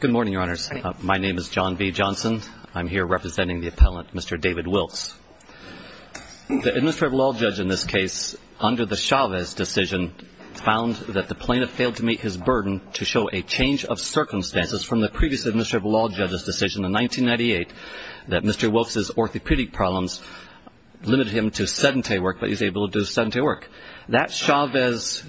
Good morning, your honors. My name is John V. Johnson. I'm here representing the appellant, Mr. David Wilkes. The administrative law judge in this case, under the Chavez decision, found that the plaintiff failed to meet his burden to show a change of circumstances from the previous administrative law judge's decision in 1998 that Mr. Wilkes' orthopedic problems limited him to sedentary work, but he was able to do sedentary work. That Chavez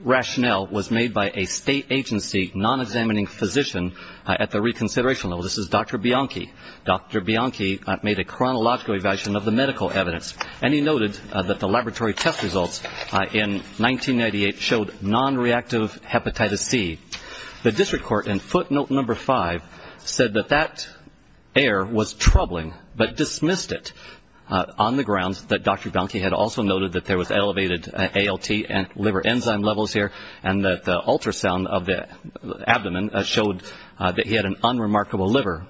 rationale was made by a state agency non-examining physician at the reconsideration level. This is Dr. Bianchi. Dr. Bianchi made a chronological evaluation of the medical evidence, and he noted that the laboratory test results in 1998 showed non-reactive hepatitis C. The district court in footnote number five said that that error was troubling, but dismissed it on the grounds that Dr. Bianchi had also noted that there was elevated ALT and liver enzyme levels here, and that the ultrasound of the abdomen showed that he had an unremarkable liver.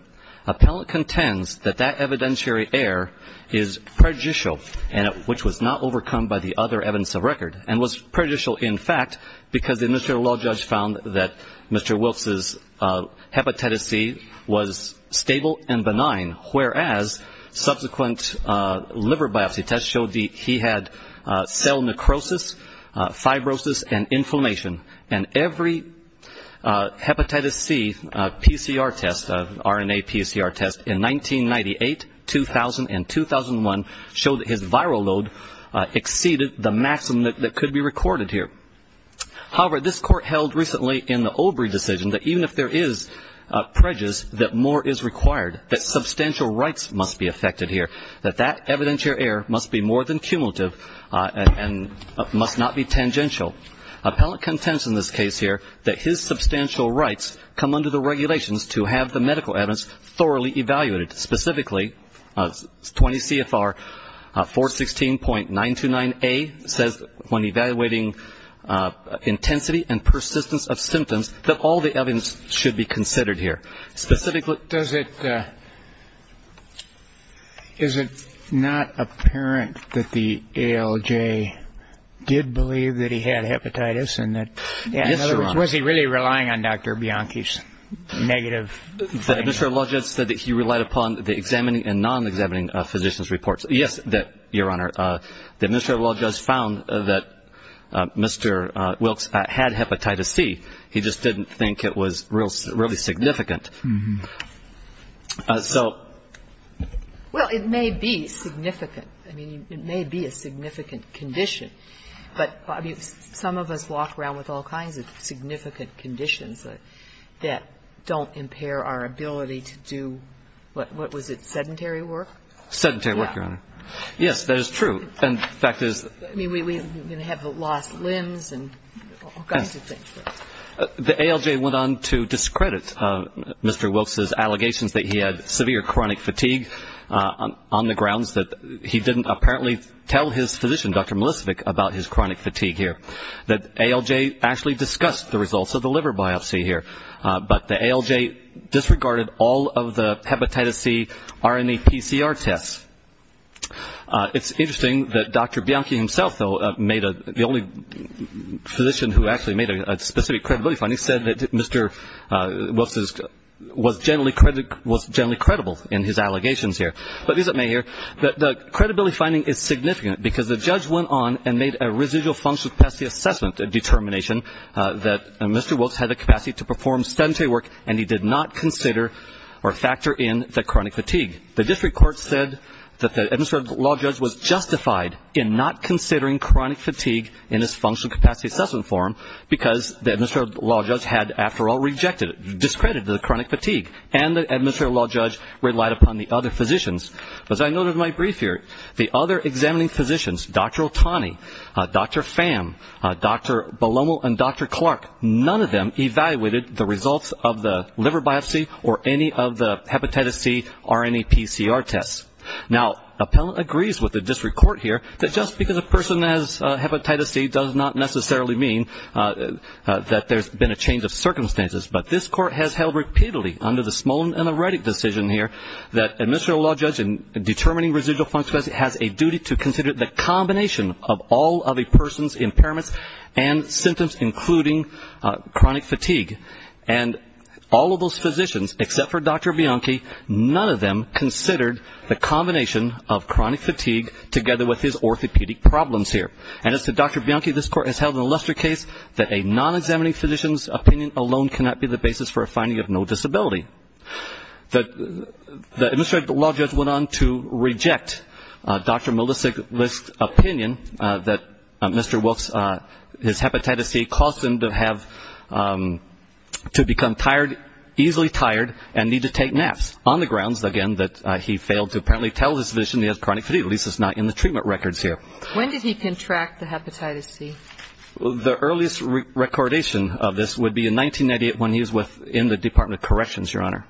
Appellant contends that that evidentiary error is prejudicial and which was not overcome by the other evidence of record and was prejudicial, in fact, because the administrative law judge found that Mr. Wilkes' hepatitis C was stable and benign, whereas subsequent liver biopsy tests showed that he had cell necrosis, fibrosis, and inflammation, and every hepatitis C PCR test, RNA PCR test in 1998, 2000, and 2001, showed that his viral load exceeded the maximum that could be recorded here. However, this court held recently in the Obrey decision that even if there is prejudice, that more is required, that substantial rights must be affected here, that that evidentiary error must be more than cumulative and must not be tangential. Appellant contends in this case here that his substantial rights come under the regulations to have the medical evidence thoroughly evaluated. Specifically, 20 CFR 416.929A says when evaluating intensity and persistence of symptoms that all the evidence should be considered here. Is it not apparent that the ALJ did believe that he had hepatitis and that, in other words, was he really relying on Dr. Bianchi's negative findings? The administrative law judge said that he relied upon the examining and non-examining physicians' reports. Yes, Your Honor, the administrative law judge found that Mr. Wilkes had hepatitis C. He just didn't think it was really significant. So ---- Well, it may be significant. I mean, it may be a significant condition. But some of us walk around with all kinds of significant conditions that don't impair our ability to do, what was it, sedentary work? Sedentary work, Your Honor. Yes, that is true. In fact, there's ---- I mean, we have lost limbs and all kinds of things. The ALJ went on to discredit Mr. Wilkes' allegations that he had severe chronic fatigue on the grounds that he didn't apparently tell his physician, Dr. Milosevic, about his chronic fatigue here. The ALJ actually discussed the results of the liver biopsy here. But the ALJ disregarded all of the hepatitis C RNA PCR tests. It's interesting that Dr. Bianchi himself, though, made a ---- the only physician who actually made a specific credibility finding said that Mr. Wilkes was generally credible in his allegations here. But it is at may here that the credibility finding is significant because the judge went on and made a residual functional capacity assessment determination that Mr. Wilkes had the capacity to perform sedentary work, and he did not consider or factor in the chronic fatigue. The district court said that the administrative law judge was justified in not considering chronic fatigue in his functional capacity assessment form because the administrative law judge had, after all, rejected it, discredited the chronic fatigue, and the administrative law judge relied upon the other physicians. As I noted in my brief here, the other examining physicians, Dr. Otani, Dr. Pham, Dr. Balomel, and Dr. Clark, none of them evaluated the results of the liver biopsy or any of the hepatitis C RNA PCR tests. Now, appellant agrees with the district court here that just because a person has hepatitis C does not necessarily mean that there's been a change of circumstances. But this court has held repeatedly under the Smolin and the Reddick decision here that administrative law judge in determining residual functional capacity has a duty to consider the combination of all of a person's impairments and symptoms including chronic fatigue. And all of those physicians, except for Dr. Bianchi, none of them considered the combination of chronic fatigue together with his orthopedic problems here. And as to Dr. Bianchi, this court has held in a luster case that a non-examining physician's opinion alone cannot be the basis for a finding of no disability. The administrative law judge went on to reject Dr. Milosevic's opinion that Mr. Wilkes, his hepatitis C, caused him to become tired, easily tired, and need to take naps on the grounds, again, that he failed to apparently tell his physician he has chronic fatigue, at least it's not in the treatment records here. When did he contract the hepatitis C? The earliest recordation of this would be in 1998 when he was in the Department of Corrections, Your Honor.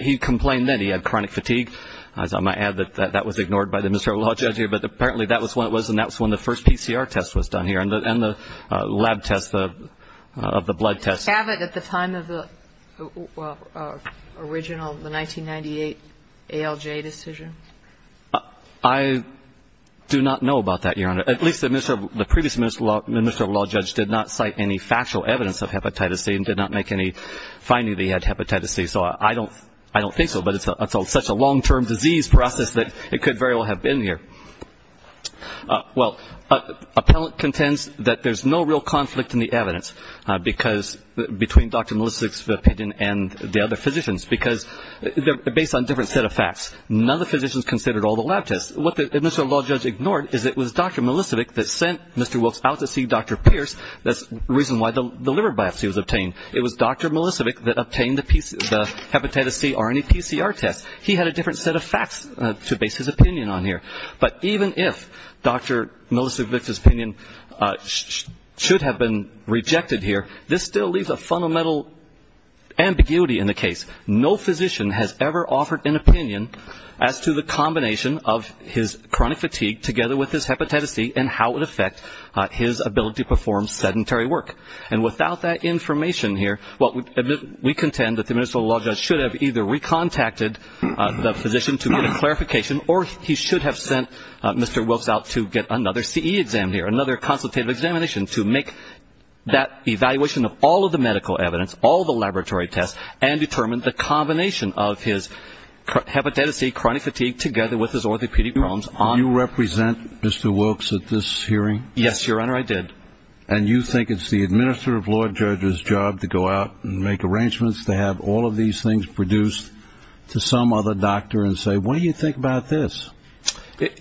He complained that he had chronic fatigue. I might add that that was ignored by the administrative law judge here, but apparently that was when it was and that was when the first PCR test was done here and the lab test of the blood test. Was it at the time of the original, the 1998 ALJ decision? I do not know about that, Your Honor. At least the previous administrative law judge did not cite any factual evidence of hepatitis C and did not make any finding that he had hepatitis C, so I don't think so, but it's such a long-term disease process that it could very well have been here. Well, appellant contends that there's no real conflict in the evidence between Dr. Milosevic's opinion and the other physicians because they're based on a different set of facts. None of the physicians considered all the lab tests. What the administrative law judge ignored is it was Dr. Milosevic that sent Mr. Wilkes out to see Dr. Pierce. That's the reason why the liver biopsy was obtained. It was Dr. Milosevic that obtained the hepatitis C RNA PCR test. He had a different set of facts to base his opinion on here, but even if Dr. Milosevic's opinion should have been rejected here, this still leaves a fundamental ambiguity in the case. No physician has ever offered an opinion as to the combination of his chronic fatigue together with his hepatitis C and how it affects his ability to perform sedentary work. And without that information here, we contend that the administrative law judge should have either recontacted the physician to get a clarification or he should have sent Mr. Wilkes out to get another CE exam here, another consultative examination to make that evaluation of all of the medical evidence, all the laboratory tests, and determine the combination of his hepatitis C chronic fatigue together with his orthopedic problems. You represent Mr. Wilkes at this hearing? Yes, Your Honor, I did. And you think it's the administrative law judge's job to go out and make arrangements to have all of these things produced to some other doctor and say, what do you think about this?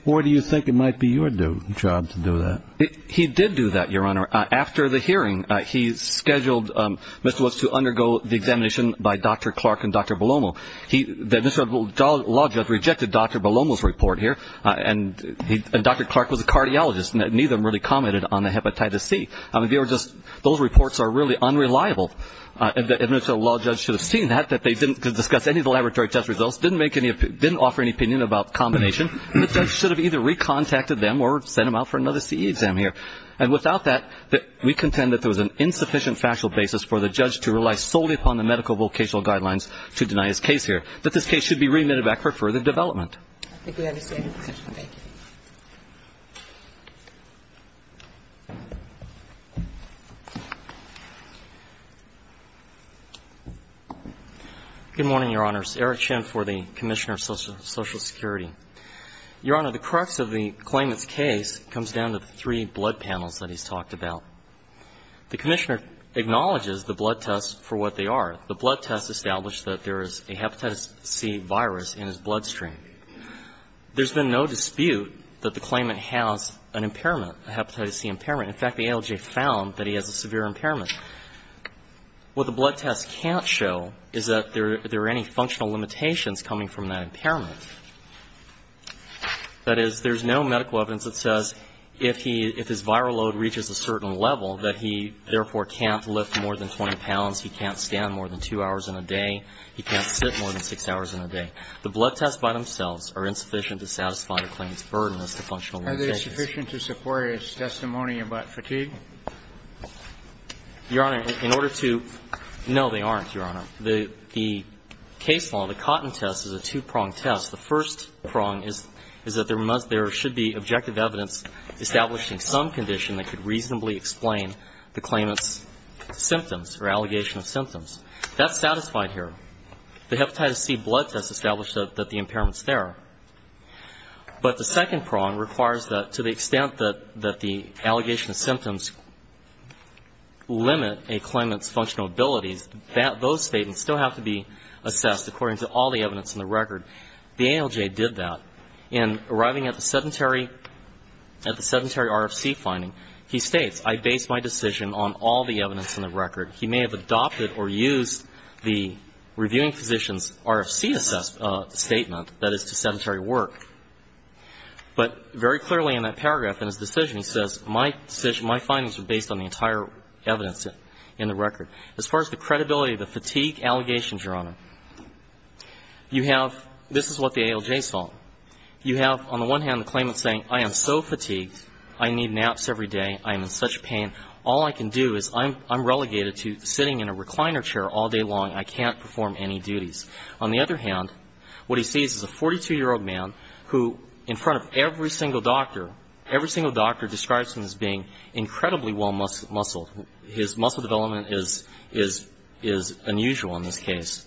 Or do you think it might be your job to do that? He did do that, Your Honor. After the hearing, he scheduled Mr. Wilkes to undergo the examination by Dr. Clark and Dr. Belomo. The administrative law judge rejected Dr. Belomo's report here, and Dr. Clark was a cardiologist and neither of them really commented on the hepatitis C. Those reports are really unreliable. The administrative law judge should have seen that, that they didn't discuss any of the laboratory test results, didn't offer any opinion about the combination, and the judge should have either recontacted them or sent them out for another CE exam here. And without that, we contend that there was an insufficient factual basis for the judge to rely solely upon the medical vocational guidelines to deny his case here, that this case should be remitted back for further development. I think we understand your question. Thank you. Good morning, Your Honors. Eric Chin for the Commissioner of Social Security. Your Honor, the crux of the claimant's case comes down to the three blood panels that he's talked about. The Commissioner acknowledges the blood tests for what they are. The blood test established that there is a hepatitis C virus in his bloodstream. There's been no dispute that the claimant has an impairment, a hepatitis C impairment. In fact, the ALJ found that he has a severe impairment. What the blood test can't show is that there are any functional limitations coming from that impairment. That is, there's no medical evidence that says if he – if his viral load reaches a certain level, that he, therefore, can't lift more than 20 pounds, he can't stand more than 2 hours in a day, he can't sit more than 6 hours in a day. The blood tests by themselves are insufficient to satisfy the claimant's burden as to functional limitations. Is sufficient to support his testimony about fatigue? Your Honor, in order to – no, they aren't, Your Honor. The case law, the Cotton test, is a two-pronged test. The first prong is that there must – there should be objective evidence establishing some condition that could reasonably explain the claimant's symptoms or allegation of symptoms. That's satisfied here. The hepatitis C blood test established that the impairment's there. But the second prong requires that to the extent that the allegation of symptoms limit a claimant's functional abilities, that those statements still have to be assessed according to all the evidence in the record. The ALJ did that. In arriving at the sedentary – at the sedentary RFC finding, he states, I base my decision on all the evidence in the record. He may have adopted or used the reviewing physician's RFC assessment statement, that is, to sedentary work. But very clearly in that paragraph in his decision, he says, my findings are based on the entire evidence in the record. As far as the credibility of the fatigue allegations, Your Honor, you have – this is what the ALJ saw. You have, on the one hand, the claimant saying, I am so fatigued. I need naps every day. I am in such pain. All I can do is I'm relegated to sitting in a recliner chair all day long. I can't perform any duties. On the other hand, what he sees is a 42-year-old man who, in front of every single doctor, every single doctor describes him as being incredibly well muscled. His muscle development is unusual in this case.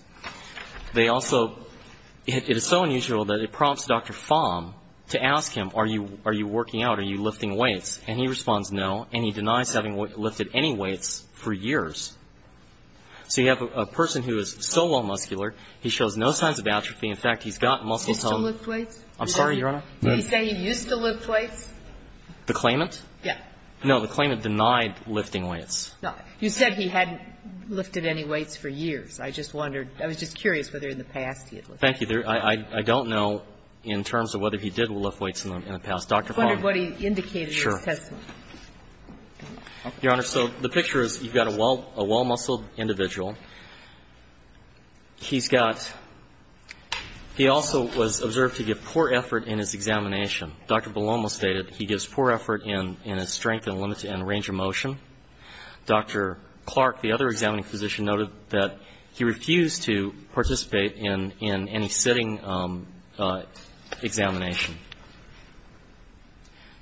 They also – it is so unusual that it prompts Dr. Fahm to ask him, are you working out, are you lifting weights? And he responds no, and he denies having lifted any weights for years. So you have a person who is so well muscular, he shows no signs of atrophy. In fact, he's got muscle tone. He used to lift weights? I'm sorry, Your Honor? Did he say he used to lift weights? The claimant? Yes. No, the claimant denied lifting weights. No. You said he hadn't lifted any weights for years. I just wondered. I was just curious whether in the past he had lifted weights. Thank you. I don't know in terms of whether he did lift weights in the past. Dr. Fahm. I just wondered what he indicated in his testimony. Sure. Your Honor, so the picture is you've got a well-muscled individual. He's got – he also was observed to give poor effort in his examination. Dr. Belomo stated he gives poor effort in his strength and range of motion. Dr. Clark, the other examining physician, noted that he refused to participate in any sitting examination.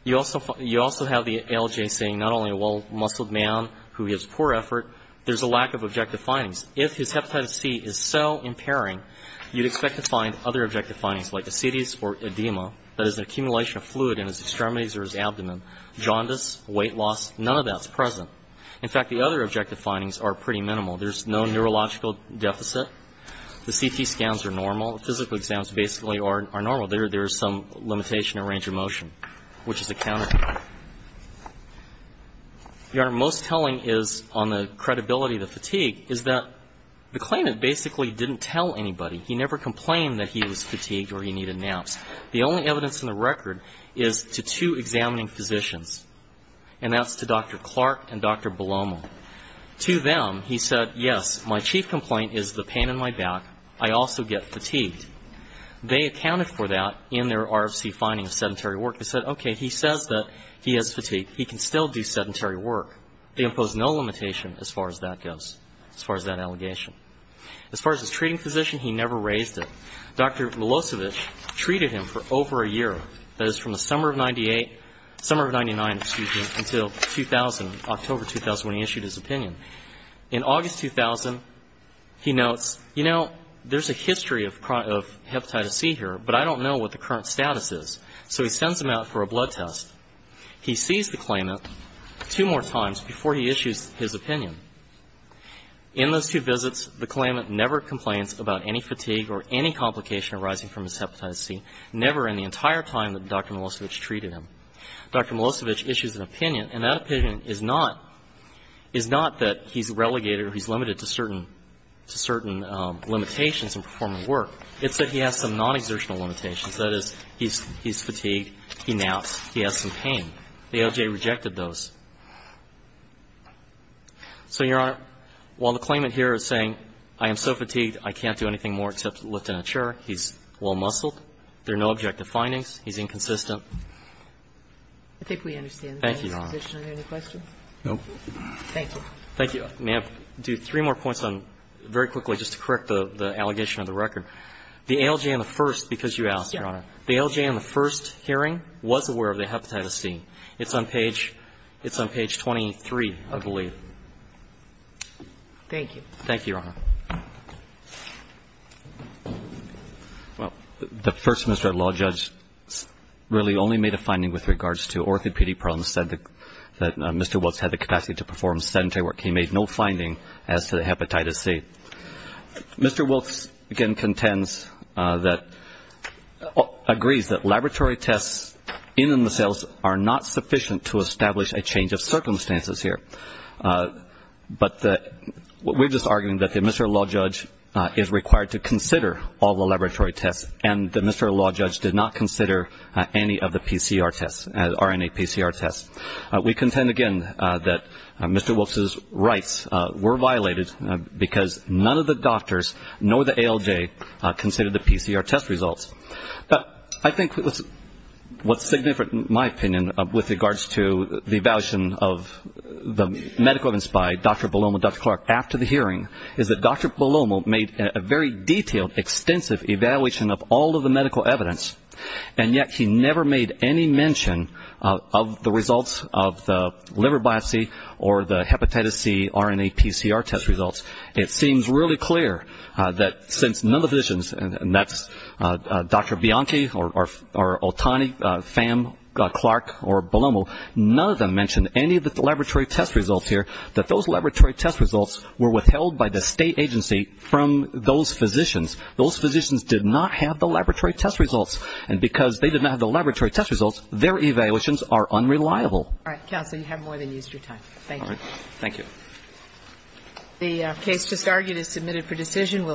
You also have the ALJ saying not only a well-muscled man who gives poor effort, there's a lack of objective findings. If his hepatitis C is so impairing, you'd expect to find other objective findings, like ascetias or edema, that is an accumulation of fluid in his extremities or his abdomen, jaundice, weight loss. None of that's present. In fact, the other objective findings are pretty minimal. There's no neurological deficit. The CT scans are normal. Physical exams basically are normal. There is some limitation in range of motion, which is accounted for. Your Honor, most telling is on the credibility of the fatigue, is that the claimant basically didn't tell anybody. He never complained that he was fatigued or he needed naps. The only evidence in the record is to two examining physicians, and that's to Dr. Clark and Dr. Belomo. To them, he said, yes, my chief complaint is the pain in my back. I also get fatigued. They accounted for that in their RFC finding of sedentary work. They said, okay, he says that he has fatigue. He can still do sedentary work. They imposed no limitation as far as that goes, as far as that allegation. As far as his treating physician, he never raised it. Dr. Milosevic treated him for over a year, that is from the summer of 98, summer of 99, excuse me, until 2000, October 2000, when he issued his opinion. In August 2000, he notes, you know, there's a history of hepatitis C here, but I don't know what the current status is. So he sends him out for a blood test. He sees the claimant two more times before he issues his opinion. In those two visits, the claimant never complains about any fatigue or any complication arising from his hepatitis C, never in the entire time that Dr. Milosevic treated him. Dr. Milosevic issues an opinion, and that opinion is not, is not that he's relegated or he's limited to certain limitations in performing work. It's that he has some non-exertional limitations. That is, he's fatigued, he naps, he has some pain. The ALJ rejected those. So, Your Honor, while the claimant here is saying, I am so fatigued, I can't do anything more except lift a chair, he's well-muscled, there are no objective findings, he's inconsistent. I think we understand. Thank you, Your Honor. Are there any questions? No. Thank you. Thank you. May I do three more points on, very quickly, just to correct the allegation of the record. The ALJ on the first, because you asked, Your Honor. The ALJ on the first hearing was aware of the hepatitis C. It's on page, it's on page 23, I believe. Thank you. Thank you, Your Honor. Well, the first Mr. Law Judge really only made a finding with regards to orthopedic problems, said that Mr. Wilkes had the capacity to perform sedentary work. He made no finding as to the hepatitis C. Mr. Wilkes, again, contends that, agrees that laboratory tests in the cells are not sufficient to establish a change of circumstances here. But we're just arguing that the Mr. Law Judge is required to consider all the laboratory tests, and the Mr. Law Judge did not consider any of the PCR tests, RNA-PCR tests. We contend, again, that Mr. Wilkes' rights were violated because none of the doctors, nor the ALJ, considered the PCR test results. But I think what's significant, in my opinion, with regards to the evaluation of the medical evidence by Dr. Palomo and Dr. Clark after the hearing is that Dr. Palomo made a very detailed, extensive evaluation of all of the medical evidence, and yet he never made any mention of the results of the liver biopsy or the hepatitis C RNA-PCR test results. It seems really clear that since none of the physicians, and that's Dr. Bianchi or Otani, Pham, Clark, or Palomo, none of them mentioned any of the laboratory test results here, that those laboratory test results were withheld by the state agency from those physicians. Those physicians did not have the laboratory test results, and because they did not have the laboratory test results, their evaluations are unreliable. All right. Counsel, you have more than used your time. Thank you. Thank you. The case just argued is submitted for decision.